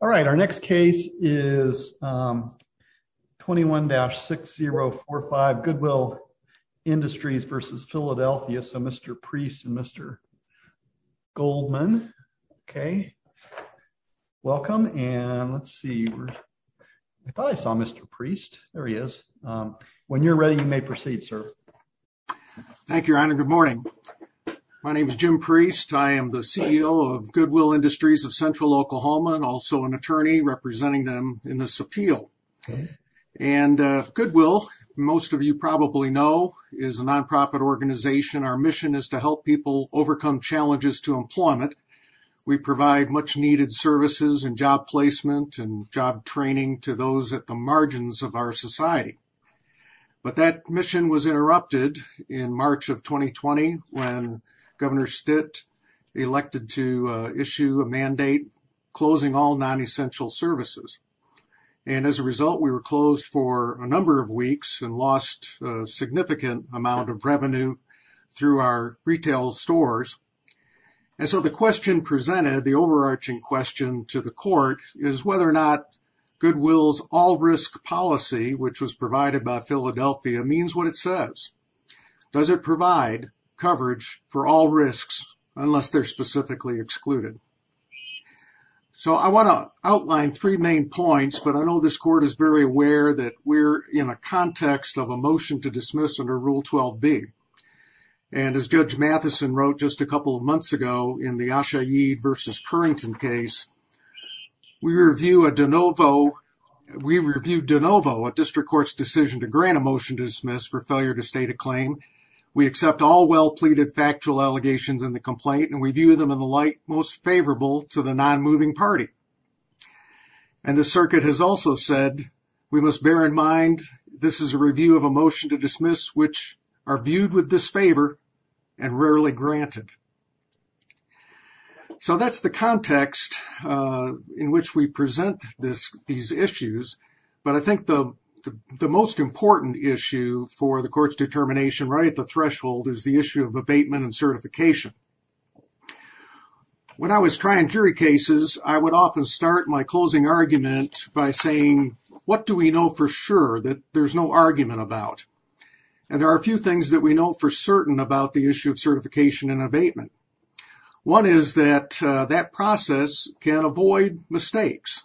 All right, our next case is 21-6045 Goodwill Industries v. Philadelphia. So Mr. Priest and Mr. Goldman. Okay. Welcome and let's see. I thought I saw Mr. Priest. There he is. When you're ready, you may proceed, sir. Thank you, Your Honor. Good morning. My name is Jim Priest. I am the CEO of Goodwill Industries of Central Oklahoma and also an attorney representing them in this appeal. And Goodwill, most of you probably know, is a nonprofit organization. Our mission is to help people overcome challenges to employment. We provide much needed services and job placement and job training to those at the margins of our society. But that mission was interrupted in March of 2020 when Governor Stitt elected to issue a mandate closing all non-essential services. And as a result, we were closed for a number of weeks and lost a significant amount of revenue through our retail stores. And so the question presented, the overarching question to the court, is whether or not Goodwill's all risk policy, which was provided by Philadelphia, means what it says. Does it provide coverage for all risks unless they're specifically excluded? So I want to outline three main points, but I know this court is very aware that we're in a context of a motion to dismiss under Rule 12b. And as Judge Matheson wrote just a couple of months ago in the Asha Yeed versus Currington case, we review a de novo. We review de novo a district court's decision to grant a motion to dismiss for failure to state a claim. We accept all well pleaded factual allegations in the complaint and we view them in the light most favorable to the non-moving party. And the circuit has also said we must bear in mind this is a review of a motion to dismiss which are viewed with disfavor and rarely granted. So that's the context in which we present these issues. But I think the most important issue for the court's determination right at the threshold is the issue of abatement and certification. When I was trying jury cases, I would often start my closing argument by saying, what do we know for sure that there's no argument about? And there are a few things that we know for certain about the issue of certification and abatement. One is that that process can avoid mistakes.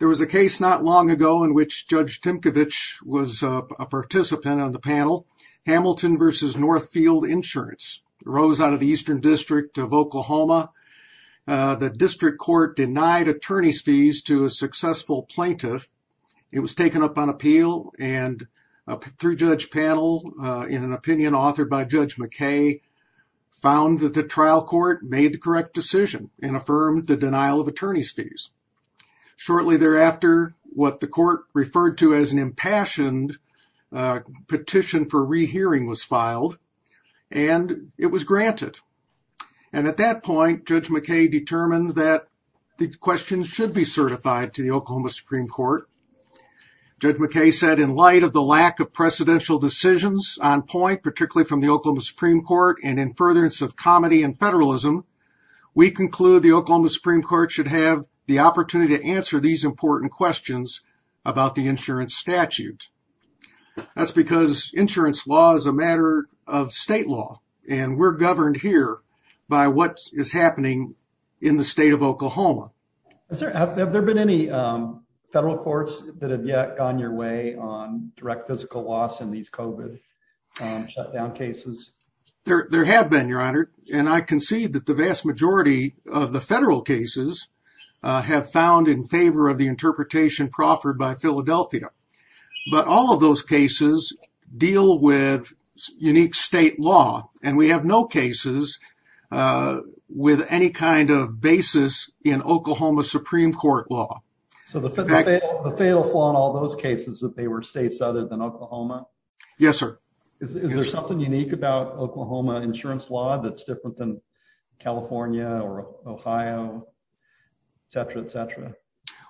There was a case not long ago in which Judge Timkovich was a participant on the panel. Hamilton versus Northfield Insurance rose out of the eastern district of Oklahoma. The district court denied attorney's fees to a successful plaintiff. It was taken up on appeal and through judge panel in an opinion authored by Judge McKay found that the trial court made the correct decision and affirmed the denial of attorney's fees. Shortly thereafter, what the court referred to as an impassioned petition for rehearing was filed and it was granted. And at that point, Judge McKay determined that the question should be certified to the Oklahoma Supreme Court. Judge McKay said in light of the lack of precedential decisions on point, particularly from the Oklahoma Supreme Court and in furtherance of comedy and federalism, we conclude the Oklahoma Supreme Court should have the opportunity to answer these important questions about the insurance statute. That's because insurance law is a matter of state law, and we're governed here by what is happening in the state of Oklahoma. Have there been any federal courts that have yet gone your way on direct physical loss in these COVID shutdown cases? There have been, Your Honor, and I concede that the vast majority of the federal cases have found in favor of the interpretation proffered by Philadelphia. But all of those cases deal with unique state law, and we have no cases with any kind of basis in Oklahoma Supreme Court law. So the fatal flaw in all those cases that they were states other than Oklahoma? Yes, sir. Is there something unique about Oklahoma insurance law that's different than California or Ohio, et cetera, et cetera?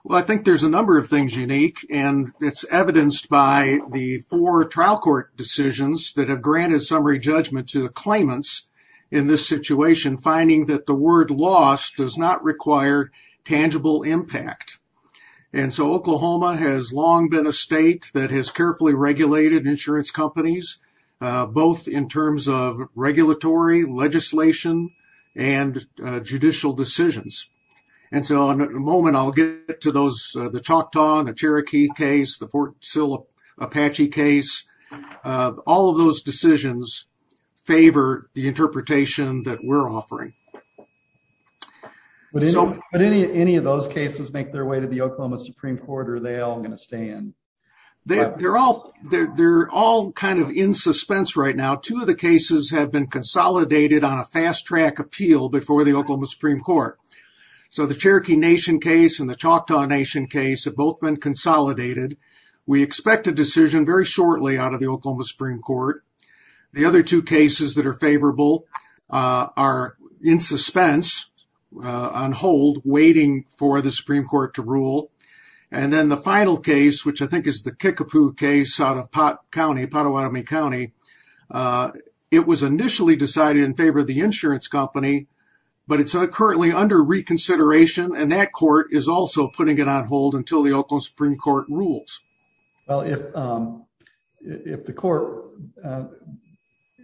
Well, I think there's a number of things unique, and it's evidenced by the four trial court decisions that have granted summary judgment to the claimants in this situation, finding that the word loss does not require tangible impact. And so Oklahoma has long been a state that has carefully regulated insurance companies, both in terms of regulatory legislation and judicial decisions. And so in a moment, I'll get to the Choctaw, the Cherokee case, the Fort Sill Apache case. All of those decisions favor the interpretation that we're offering. Would any of those cases make their way to the Oklahoma Supreme Court, or are they all going to stay in? They're all kind of in suspense right now. Two of the cases have been consolidated on a fast track appeal before the Oklahoma Supreme Court. So the Cherokee Nation case and the Choctaw Nation case have both been consolidated. We expect a decision very shortly out of the Oklahoma Supreme Court. The other two cases that are favorable are in suspense, on hold, waiting for the Supreme Court to rule. And then the final case, which I think is the Kickapoo case out of Pot County, Pottawatomie County. It was initially decided in favor of the insurance company, but it's currently under reconsideration. And that court is also putting it on hold until the Oklahoma Supreme Court rules. Well, if the court,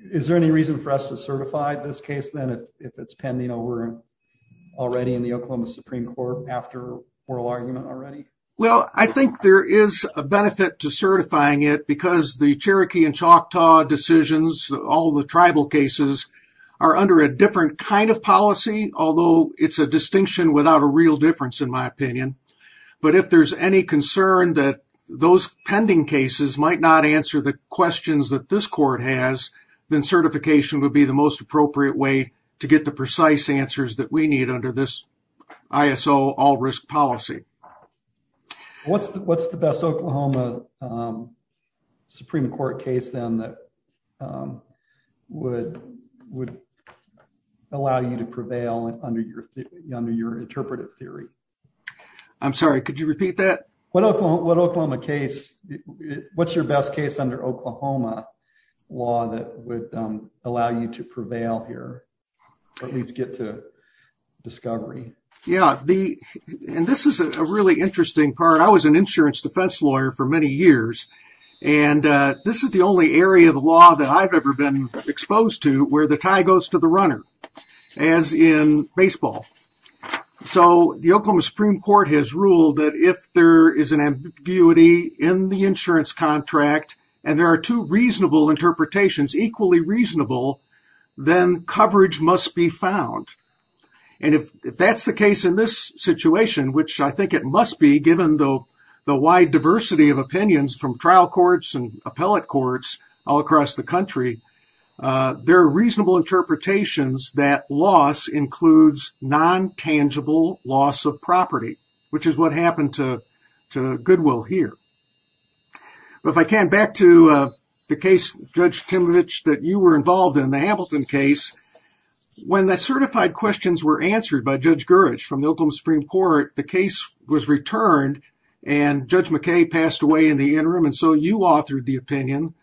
is there any reason for us to certify this case, then, if it's pending over already in the Oklahoma Supreme Court after oral argument already? Well, I think there is a benefit to certifying it because the Cherokee and Choctaw decisions, all the tribal cases, are under a different kind of policy. Although it's a distinction without a real difference, in my opinion. But if there's any concern that those pending cases might not answer the questions that this court has, then certification would be the most appropriate way to get the precise answers that we need under this ISO all risk policy. What's the best Oklahoma Supreme Court case, then, that would allow you to prevail under your interpretive theory? I'm sorry, could you repeat that? What Oklahoma case, what's your best case under Oklahoma law that would allow you to prevail here, at least get to discovery? Yeah, and this is a really interesting part. I was an insurance defense lawyer for many years. And this is the only area of law that I've ever been exposed to where the tie goes to the runner, as in baseball. So, the Oklahoma Supreme Court has ruled that if there is an ambiguity in the insurance contract, and there are two reasonable interpretations, equally reasonable, then coverage must be found. And if that's the case in this situation, which I think it must be, given the wide diversity of opinions from trial courts and appellate courts all across the country, there are reasonable interpretations that loss includes non-tangible loss of property, which is what happened to Goodwill here. If I can, back to the case, Judge Timovich, that you were involved in, the Hamilton case. When the certified questions were answered by Judge Gurich from the Oklahoma Supreme Court, the case was returned, and Judge McKay passed away in the interim, and so you authored the opinion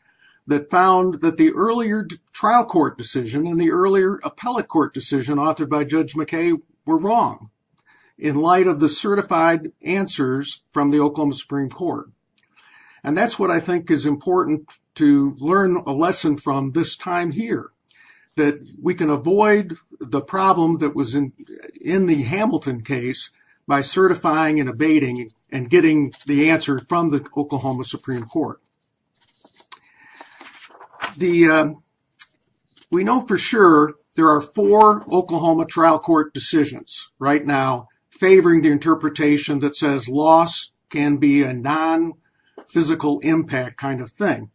that found that the earlier trial court decision and the earlier appellate court decision authored by Judge McKay were wrong, in light of the certified answers from the Oklahoma Supreme Court. And that's what I think is important to learn a lesson from this time here, that we can avoid the problem that was in the Hamilton case by certifying and abating and getting the answer from the Oklahoma Supreme Court. We know for sure there are four Oklahoma trial court decisions right now favoring the interpretation that says loss can be a non-physical impact kind of thing.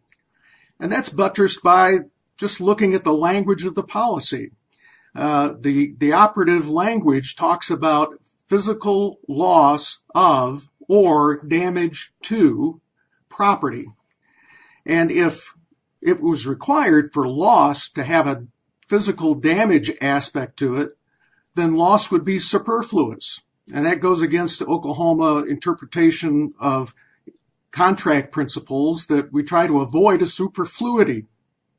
And that's buttressed by just looking at the language of the policy. The operative language talks about physical loss of, or damage to, property. And if it was required for loss to have a physical damage aspect to it, then loss would be superfluous. And that goes against the Oklahoma interpretation of contract principles that we try to avoid a superfluity,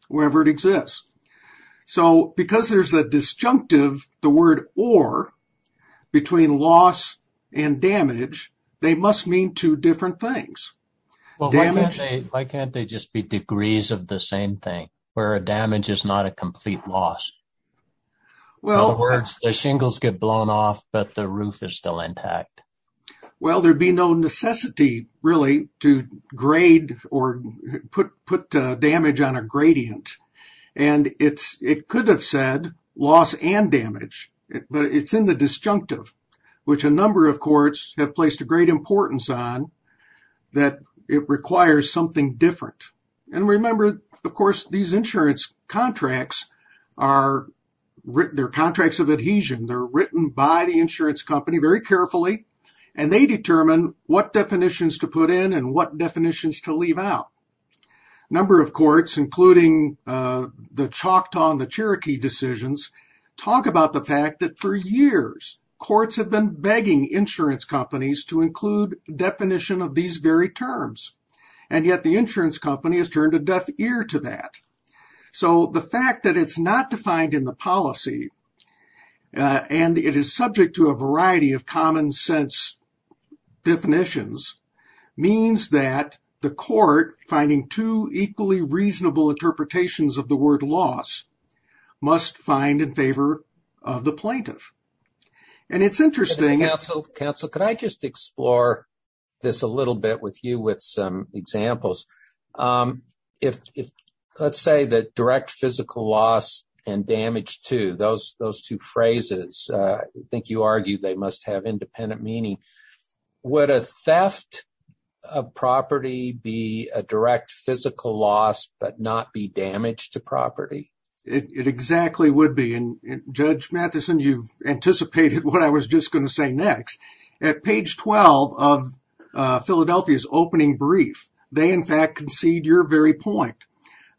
wherever it exists. So, because there's a disjunctive, the word or, between loss and damage, they must mean two different things. Well, why can't they just be degrees of the same thing, where a damage is not a complete loss? In other words, the shingles get blown off, but the roof is still intact. Well, there'd be no necessity, really, to grade or put damage on a gradient. And it could have said loss and damage, but it's in the disjunctive, which a number of courts have placed a great importance on, that it requires something different. And remember, of course, these insurance contracts, they're contracts of adhesion. They're written by the insurance company very carefully, and they determine what definitions to put in and what definitions to leave out. A number of courts, including the Choctaw and the Cherokee decisions, talk about the fact that for years, courts have been begging insurance companies to include a definition of these very terms. And yet, the insurance company has turned a deaf ear to that. So, the fact that it's not defined in the policy, and it is subject to a variety of common sense definitions, means that the court, finding two equally reasonable interpretations of the word loss, must find in favor of the plaintiff. And it's interesting— Counsel, counsel, could I just explore this a little bit with you with some examples? If, let's say, the direct physical loss and damage to, those two phrases, I think you argued they must have independent meaning. Would a theft of property be a direct physical loss but not be damage to property? It exactly would be. Judge Matheson, you've anticipated what I was just going to say next. At page 12 of Philadelphia's opening brief, they, in fact, concede your very point.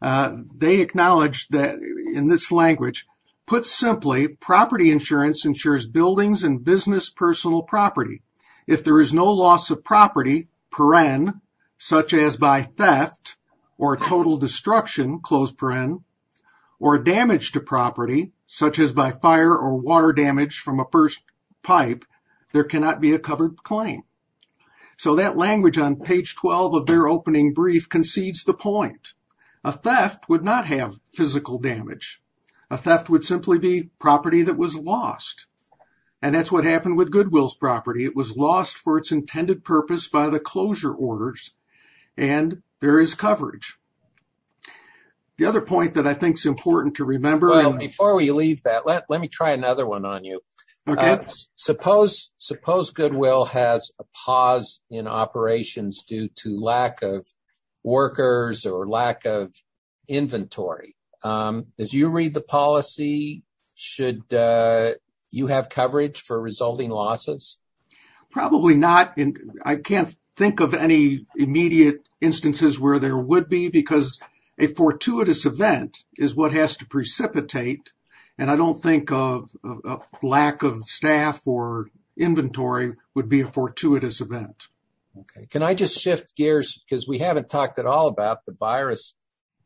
They acknowledge that, in this language, put simply, property insurance ensures buildings and business personal property. If there is no loss of property, per-en, such as by theft or total destruction, close per-en, or damage to property, such as by fire or water damage from a burst pipe, there cannot be a covered claim. So, that language on page 12 of their opening brief concedes the point. A theft would not have physical damage. A theft would simply be property that was lost. And that's what happened with Goodwill's property. It was lost for its intended purpose by the closure orders, and there is coverage. The other point that I think is important to remember. Well, before we leave that, let me try another one on you. Okay. Suppose Goodwill has a pause in operations due to lack of workers or lack of inventory. As you read the policy, should you have coverage for resulting losses? Probably not. I can't think of any immediate instances where there would be, because a fortuitous event is what has to precipitate. And I don't think a lack of staff or inventory would be a fortuitous event. Okay. Can I just shift gears, because we haven't talked at all about the virus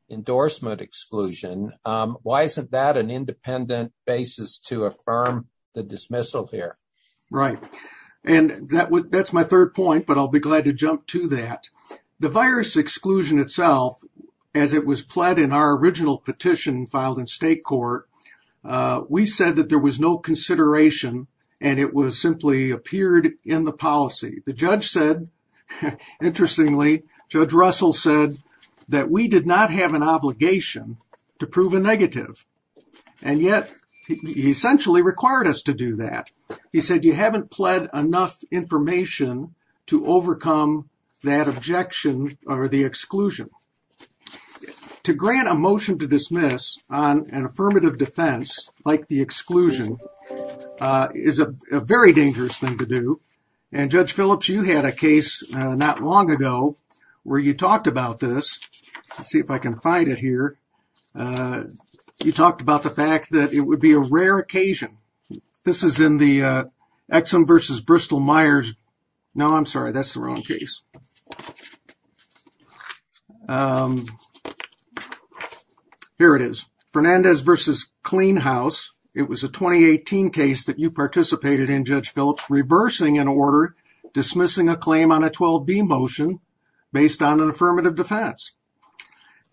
endorsement exclusion. Why isn't that an independent basis to affirm the dismissal here? Right. And that's my third point, but I'll be glad to jump to that. The virus exclusion itself, as it was pled in our original petition filed in state court, we said that there was no consideration, and it was simply appeared in the policy. The judge said, interestingly, Judge Russell said that we did not have an obligation to prove a negative. And yet, he essentially required us to do that. He said, you haven't pled enough information to overcome that objection or the exclusion. To grant a motion to dismiss on an affirmative defense like the exclusion is a very dangerous thing to do. And, Judge Phillips, you had a case not long ago where you talked about this. Let's see if I can find it here. You talked about the fact that it would be a rare occasion. This is in the Exum versus Bristol-Meyers. No, I'm sorry. That's the wrong case. Here it is. Fernandez versus Clean House. It was a 2018 case that you participated in, Judge Phillips, reversing an order dismissing a claim on a 12B motion based on an affirmative defense.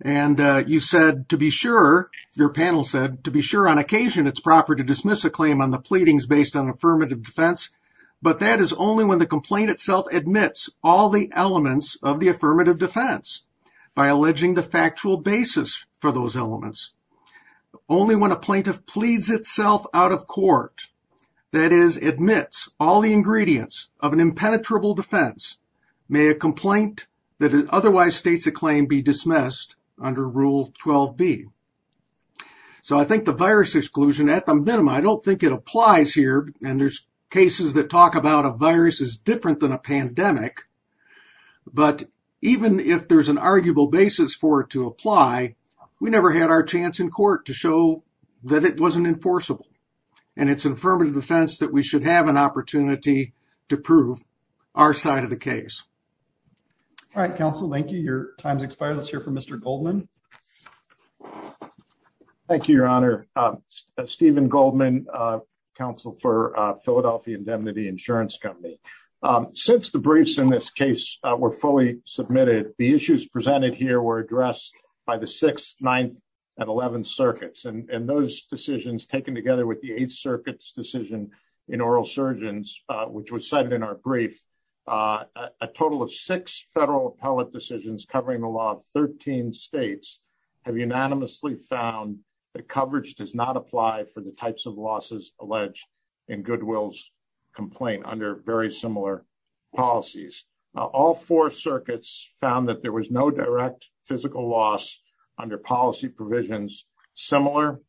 And you said, to be sure, your panel said, to be sure, on occasion, it's proper to dismiss a claim on the pleadings based on affirmative defense. But that is only when the complaint itself admits all the elements of the affirmative defense by alleging the factual basis for those elements. Only when a plaintiff pleads itself out of court, that is, admits all the ingredients of an impenetrable defense, may a complaint that otherwise states a claim be dismissed under Rule 12B. So I think the virus exclusion, at the minimum, I don't think it applies here. And there's cases that talk about a virus is different than a pandemic. But even if there's an arguable basis for it to apply, we never had our chance in court to show that it wasn't enforceable. And it's an affirmative defense that we should have an opportunity to prove our side of the case. All right, Counsel. Thank you. Your time's expired. Let's hear from Mr. Goldman. Thank you, Your Honor. Stephen Goldman, Counsel for Philadelphia Indemnity Insurance Company. Since the briefs in this case were fully submitted, the issues presented here were addressed by the 6th, 9th, and 11th circuits. And those decisions, taken together with the 8th circuit's decision in oral surgeons, which was cited in our brief, a total of six federal appellate decisions covering the law of 13 states have unanimously found that coverage does not apply for the types of losses alleged in Goodwill's complaint under very similar policies. All four circuits found that there was no direct physical loss under policy provisions similar,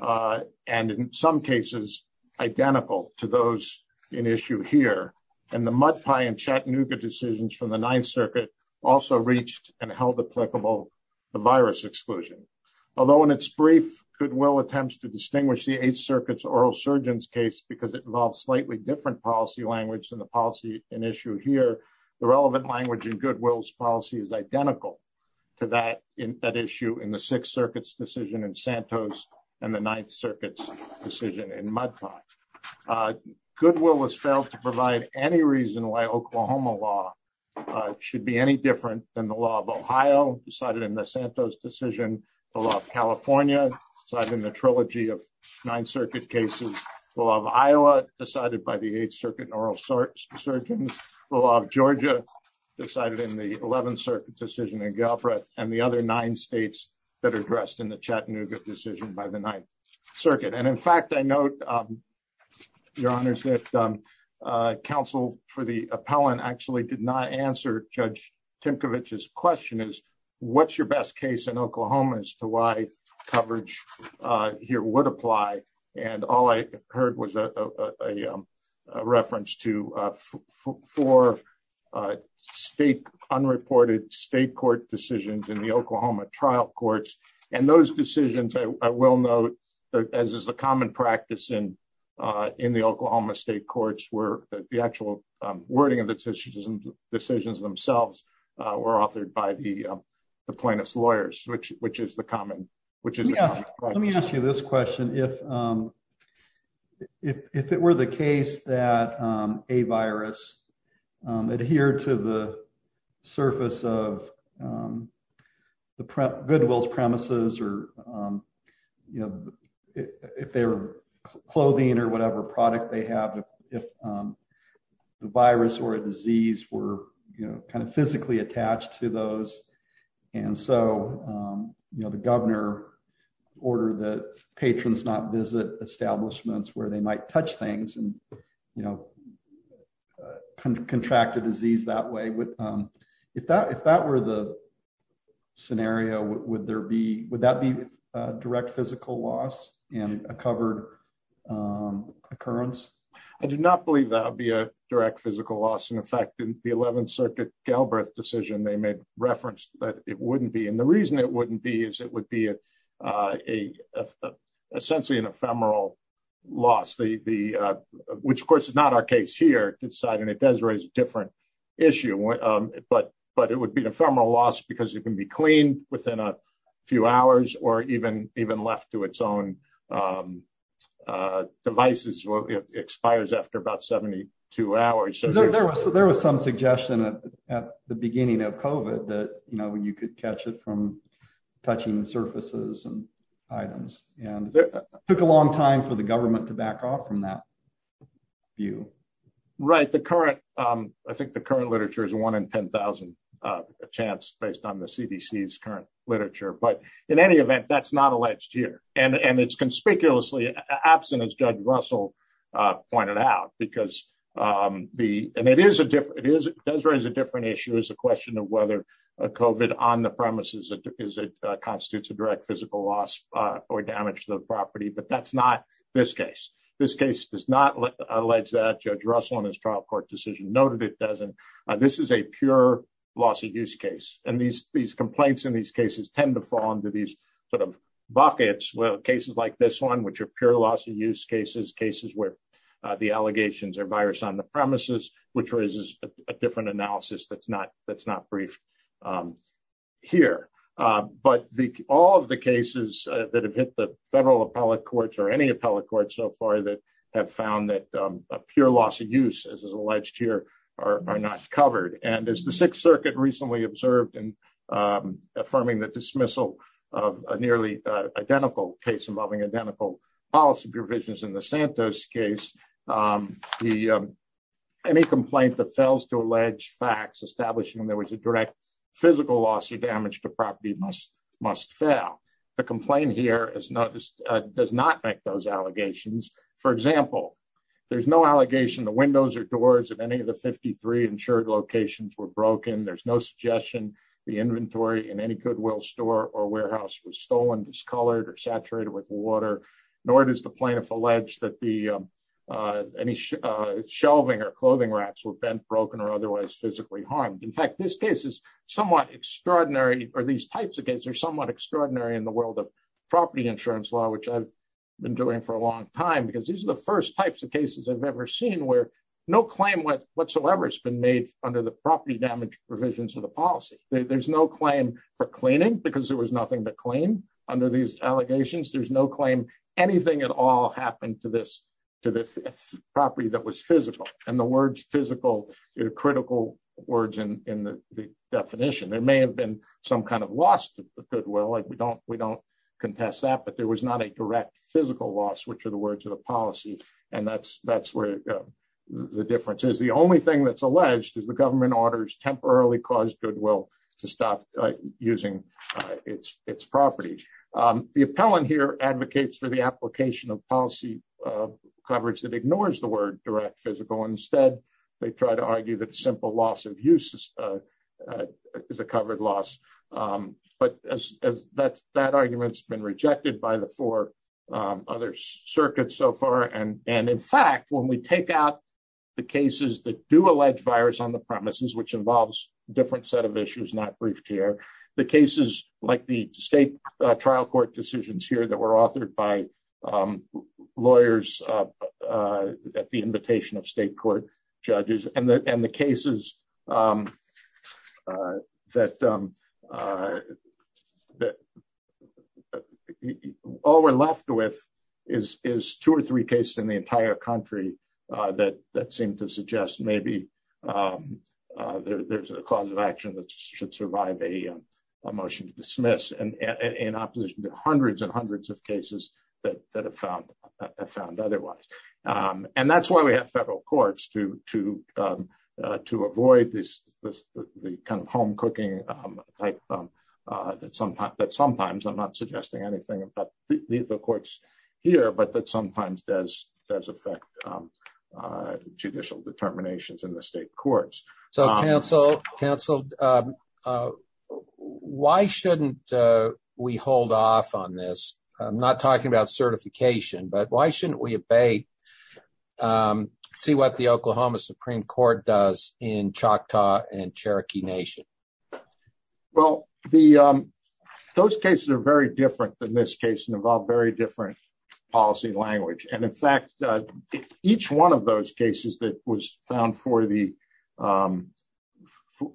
and in some cases, identical to those in issue here. And the Mud Pie and Chattanooga decisions from the 9th circuit also reached and held applicable the virus exclusion. Although in its brief, Goodwill attempts to distinguish the 8th circuit's oral surgeons case because it involves slightly different policy language than the policy in issue here, the relevant language in Goodwill's policy is identical to that issue in the 6th circuit's decision in Santos and the 9th circuit's decision in Mud Pie. Goodwill has failed to provide any reason why Oklahoma law should be any different than the law of Ohio decided in the Santos decision, the law of California decided in the trilogy of 9th circuit cases, the law of Iowa decided by the 8th circuit in oral surgeons, the law of Georgia decided in the 11th circuit decision in Galbraith, and the other nine states that are addressed in the Chattanooga decision by the 9th circuit. And in fact, I note, Your Honors, that counsel for the appellant actually did not answer Judge Timkovich's question is, what's your best case in Oklahoma as to why coverage here would apply? And all I heard was a reference to four state unreported state court decisions in the Oklahoma trial courts. And those decisions, I will note, as is the common practice in the Oklahoma state courts, where the actual wording of the decisions themselves were authored by the plaintiff's lawyers, which is the common question. If if it were the case that a virus adhere to the surface of the goodwill's premises or, you know, if their clothing or whatever product they have, if the virus or a disease were kind of physically attached to those. And so, you know, the governor ordered the patrons not visit establishments where they might touch things and, you know, contract a disease that way. But if that if that were the scenario, would there be would that be direct physical loss and a covered occurrence? I do not believe that would be a direct physical loss. And in fact, in the 11th Circuit Galbraith decision, they made reference that it wouldn't be. And the reason it wouldn't be is it would be a essentially an ephemeral loss. The which, of course, is not our case here. And it does raise a different issue. But but it would be an ephemeral loss because it can be cleaned within a few hours or even even left to its own devices expires after about 72 hours. So there was so there was some suggestion at the beginning of Covid that, you know, when you could catch it from touching surfaces and items and took a long time for the government to back off from that view. Right. The current I think the current literature is one in 10,000 chance based on the CDC's current literature. But in any event, that's not alleged here. And it's conspicuously absent, as Judge Russell pointed out, because the and it is a different it is it does raise a different issue is a question of whether Covid on the premises is it constitutes a direct physical loss or damage to the property. But that's not this case. This case does not allege that. Judge Russell in his trial court decision noted it doesn't. This is a pure loss of use case. And these these complaints in these cases tend to fall into these sort of buckets. Well, cases like this one, which appear loss of use cases, cases where the allegations are virus on the premises, which raises a different analysis that's not that's not brief here. But all of the cases that have hit the federal appellate courts or any appellate court so far that have found that a pure loss of use, as is alleged here, are not covered. And as the Sixth Circuit recently observed in affirming the dismissal of a nearly identical case involving identical policy provisions in the Santos case, the any complaint that fails to allege facts establishing there was a direct physical loss of damage to property must must fail. The complaint here is not does not make those allegations. For example, there's no allegation the windows or doors of any of the 53 insured locations were broken. There's no suggestion the inventory in any Goodwill store or warehouse was stolen, discolored or saturated with water, nor does the plaintiff allege that the any shelving or clothing racks were bent, broken or otherwise physically harmed. In fact, this case is somewhat extraordinary. Are these types of cases are somewhat extraordinary in the world of property insurance law, which I've been doing for a long time because these are the first types of cases I've ever seen where no claim whatsoever has been made under the property damage provisions of the policy. There's no claim for cleaning because there was nothing to claim under these allegations. There's no claim anything at all happened to this to the property that was physical and the words physical critical words in the definition. There may have been some kind of lost goodwill. We don't we don't contest that, but there was not a direct physical loss, which are the words of the policy. And that's that's where the difference is. The only thing that's alleged is the government orders temporarily caused goodwill to stop using its its property. The appellant here advocates for the application of policy coverage that ignores the word direct physical. Instead, they try to argue that simple loss of use is a covered loss. But that's that argument's been rejected by the four other circuits so far. And and in fact, when we take out the cases that do allege virus on the premises, which involves different set of issues, not brief care, the cases like the state trial court decisions here that were authored by lawyers at the invitation of state court judges and the cases that that all we're left with is is two or three cases in the entire country. That seemed to suggest maybe there's a cause of action that should survive a motion to dismiss and in opposition to hundreds and hundreds of cases that that have found found otherwise. And that's why we have federal courts to to to avoid this kind of home cooking that sometimes that sometimes I'm not suggesting anything about the courts here, but that sometimes does does affect judicial determinations in the state courts. So, counsel, counsel, why shouldn't we hold off on this? I'm not talking about certification, but why shouldn't we obey? See what the Oklahoma Supreme Court does in Choctaw and Cherokee Nation. Well, the those cases are very different than this case and involve very different policy language. And in fact, each one of those cases that was found for the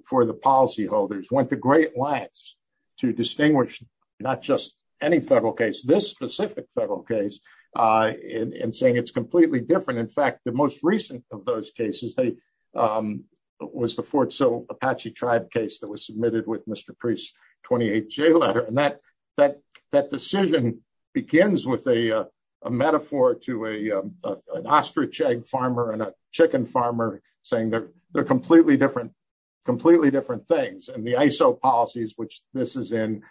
for the policyholders went to great lengths to distinguish not just any federal case, this specific federal case and saying it's completely different. And in fact, the most recent of those cases, they was the Fort Sill Apache tribe case that was submitted with Mr. Priest 28 J letter. And that that that decision begins with a metaphor to a an ostrich egg farmer and a chicken farmer saying they're they're completely different, completely different things. And the ISO policies, which this is in,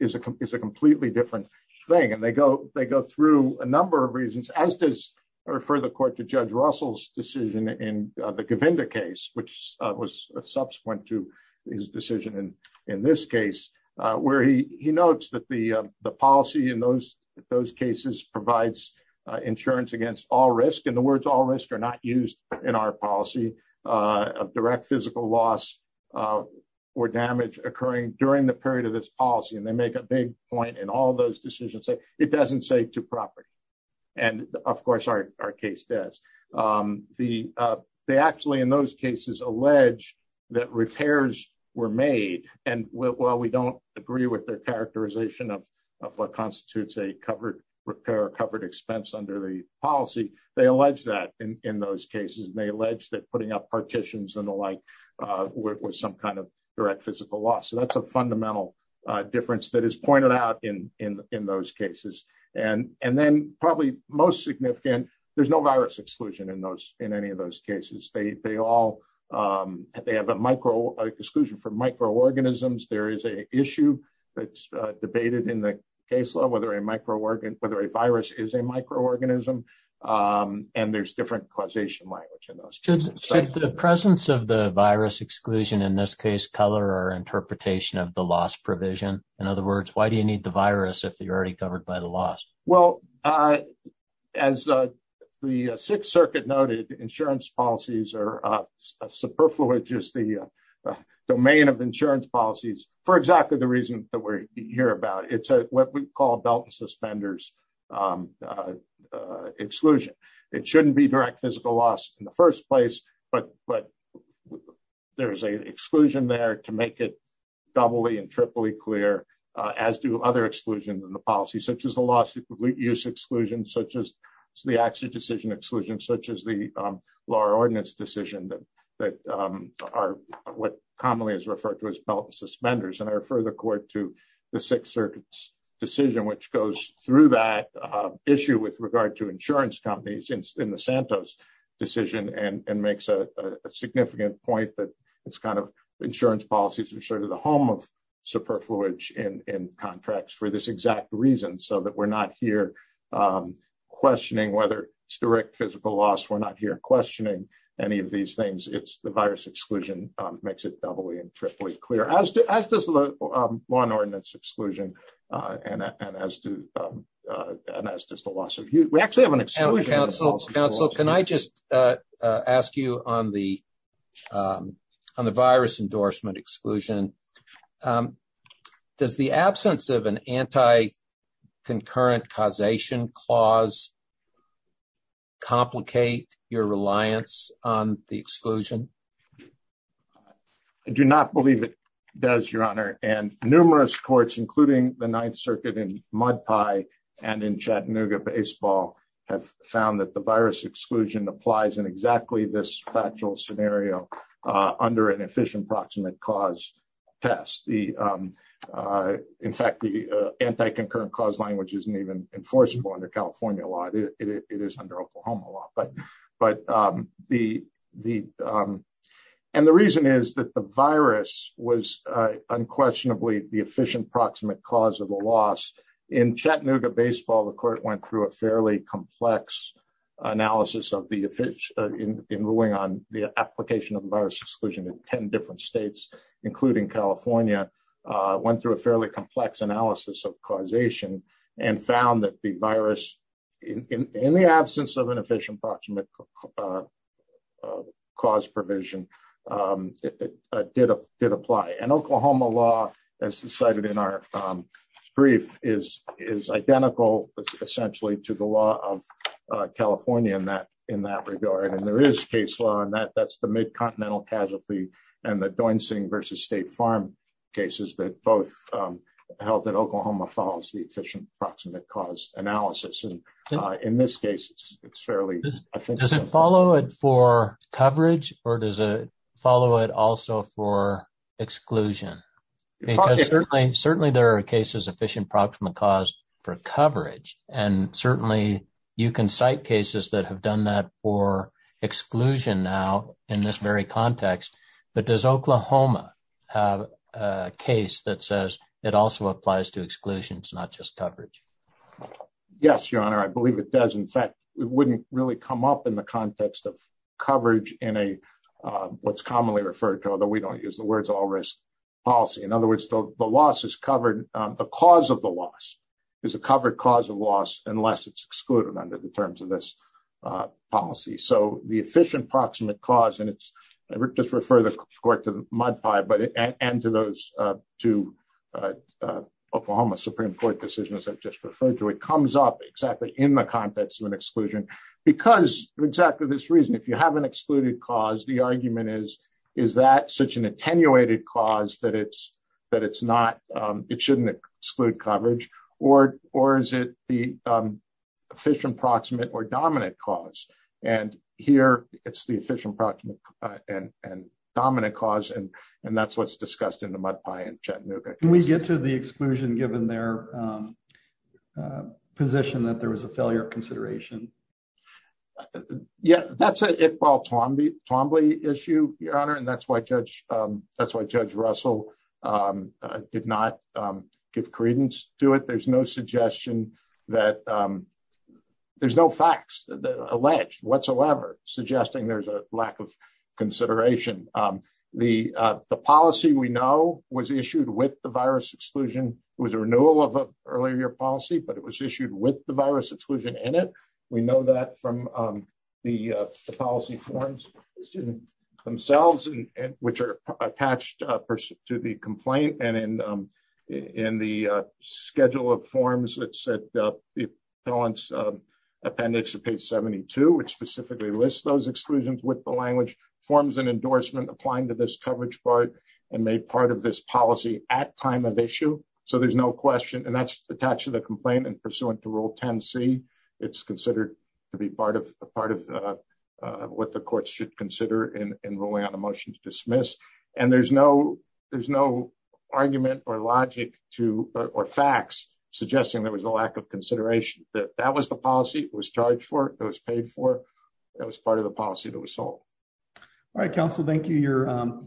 is a is a completely different thing. And they go they go through a number of reasons, as does refer the court to Judge Russell's decision in the Govinda case, which was subsequent to his decision. And in this case where he he notes that the the policy in those those cases provides insurance against all risk. And the words all risk are not used in our policy of direct physical loss or damage occurring during the period of this policy. And they make a big point in all those decisions. It doesn't say to property. And of course, our case does the they actually in those cases allege that repairs were made. And while we don't agree with their characterization of what constitutes a covered repair covered expense under the policy, they allege that in those cases, they allege that putting up partitions and the like with some kind of direct physical loss. So that's a fundamental difference that is pointed out in in in those cases. And and then probably most significant, there's no virus exclusion in those in any of those cases. They they all they have a micro exclusion from microorganisms. There is a issue that's debated in the case law, whether a microorganism, whether a virus is a microorganism. And there's different causation language in the presence of the virus exclusion, in this case, color or interpretation of the loss provision. In other words, why do you need the virus if you're already covered by the loss? Well, as the Sixth Circuit noted, the insurance policies are superfluous. The domain of insurance policies, for exactly the reason that we're here about, it's what we call belt and suspenders exclusion. It shouldn't be direct physical loss in the first place. But but there is a exclusion there to make it doubly and triply clear, as do other exclusions in the policy, such as the loss use exclusion, such as the action decision exclusion, such as the law ordinance decision that that are what commonly is referred to as belt suspenders. And I refer the court to the Sixth Circuit's decision, which goes through that issue with regard to insurance companies in the Santos decision and makes a significant point that it's kind of insurance policies. It's sort of the home of superfluous in contracts for this exact reason, so that we're not here questioning whether it's direct physical loss. We're not here questioning any of these things. It's the virus exclusion makes it doubly and triply clear as to as this law ordinance exclusion. And as to and as does the loss of you, we actually have an exclusive counsel. Can I just ask you on the on the virus endorsement exclusion? Does the absence of an anti concurrent causation clause. Complicate your reliance on the exclusion. I do not believe it does, Your Honor, and numerous courts, including the Ninth Circuit in mud pie and in Chattanooga baseball have found that the virus exclusion applies in exactly this factual scenario under an efficient proximate cause test. The in fact, the anti concurrent cause language isn't even enforceable under California law. It is under Oklahoma law. But but the the and the reason is that the virus was unquestionably the efficient proximate cause of the loss in Chattanooga baseball. The court went through a fairly complex analysis of the in ruling on the application of virus exclusion in 10 different states, including California, went through a fairly complex analysis of causation and found that the virus in the absence of an efficient proximate cause provision. Did did apply and Oklahoma law as decided in our brief is is identical, essentially, to the law of California in that in that regard. And there is case law and that that's the mid continental casualty and the Doinson versus State Farm cases that both held that Oklahoma follows the efficient proximate cause analysis. In this case, it's fairly, I think, does it follow it for coverage or does it follow it also for exclusion? Certainly there are cases efficient proximate cause for coverage. And certainly you can cite cases that have done that for exclusion now in this very context. But does Oklahoma have a case that says it also applies to exclusions, not just coverage? Yes, Your Honor, I believe it does. In fact, it wouldn't really come up in the context of coverage in a what's commonly referred to, although we don't use the words all risk policy. In other words, the loss is covered. The cause of the loss is a covered cause of loss unless it's excluded under the terms of this policy. So the efficient proximate cause and it's just refer the court to the mud pie. But and to those two Oklahoma Supreme Court decisions I've just referred to, it comes up exactly in the context of an exclusion because exactly this reason. If you have an excluded cause, the argument is, is that such an attenuated cause that it's that it's not it shouldn't exclude coverage or or is it the efficient proximate or dominant cause? And here it's the efficient proximate and dominant cause. And that's what's discussed in the mud pie in Chattanooga. Can we get to the exclusion given their position that there was a failure of consideration? Yeah, that's it. Paul, Tom, Tom Lee issue, Your Honor. And that's why Judge that's why Judge Russell did not give credence to it. There's no suggestion that there's no facts alleged whatsoever, suggesting there's a lack of consideration. The policy we know was issued with the virus exclusion was a renewal of an earlier policy, but it was issued with the virus exclusion in it. We know that from the policy forms themselves, which are attached to the complaint. And in in the schedule of forms that said the appellants appendix to page 72, which specifically lists those exclusions with the language forms and endorsement applying to this coverage part and made part of this policy at time of issue. So there's no question. And that's attached to the complaint and pursuant to Rule 10C. It's considered to be part of a part of what the courts should consider in ruling on a motion to dismiss. And there's no there's no argument or logic to or facts, suggesting there was a lack of consideration that that was the policy was charged for those paid for. That was part of the policy that was sold. All right, counsel. Thank you. Your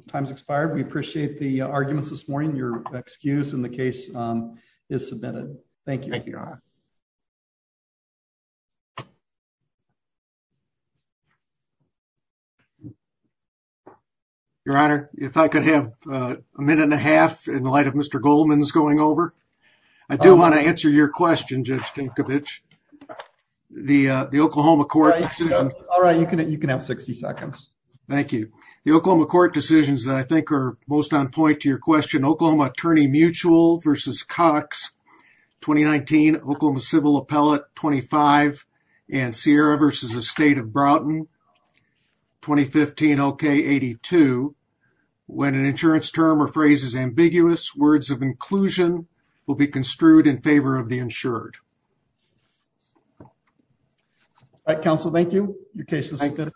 time's expired. We appreciate the arguments this morning. Your excuse in the case is submitted. Thank you. Thank you. Your Honor, if I could have a minute and a half in light of Mr. Goldman's going over. I do want to answer your question, Judge Tinkovich. The Oklahoma court. All right. You can you can have 60 seconds. Thank you. The Oklahoma court decisions that I think are most on point to your question, Oklahoma attorney mutual versus Cox 2019 Oklahoma civil appellate 25 and Sierra versus a state of Broughton. Okay, 82. When an insurance term or phrases ambiguous words of inclusion will be construed in favor of the insured. All right, counsel. Thank you. Your case is good.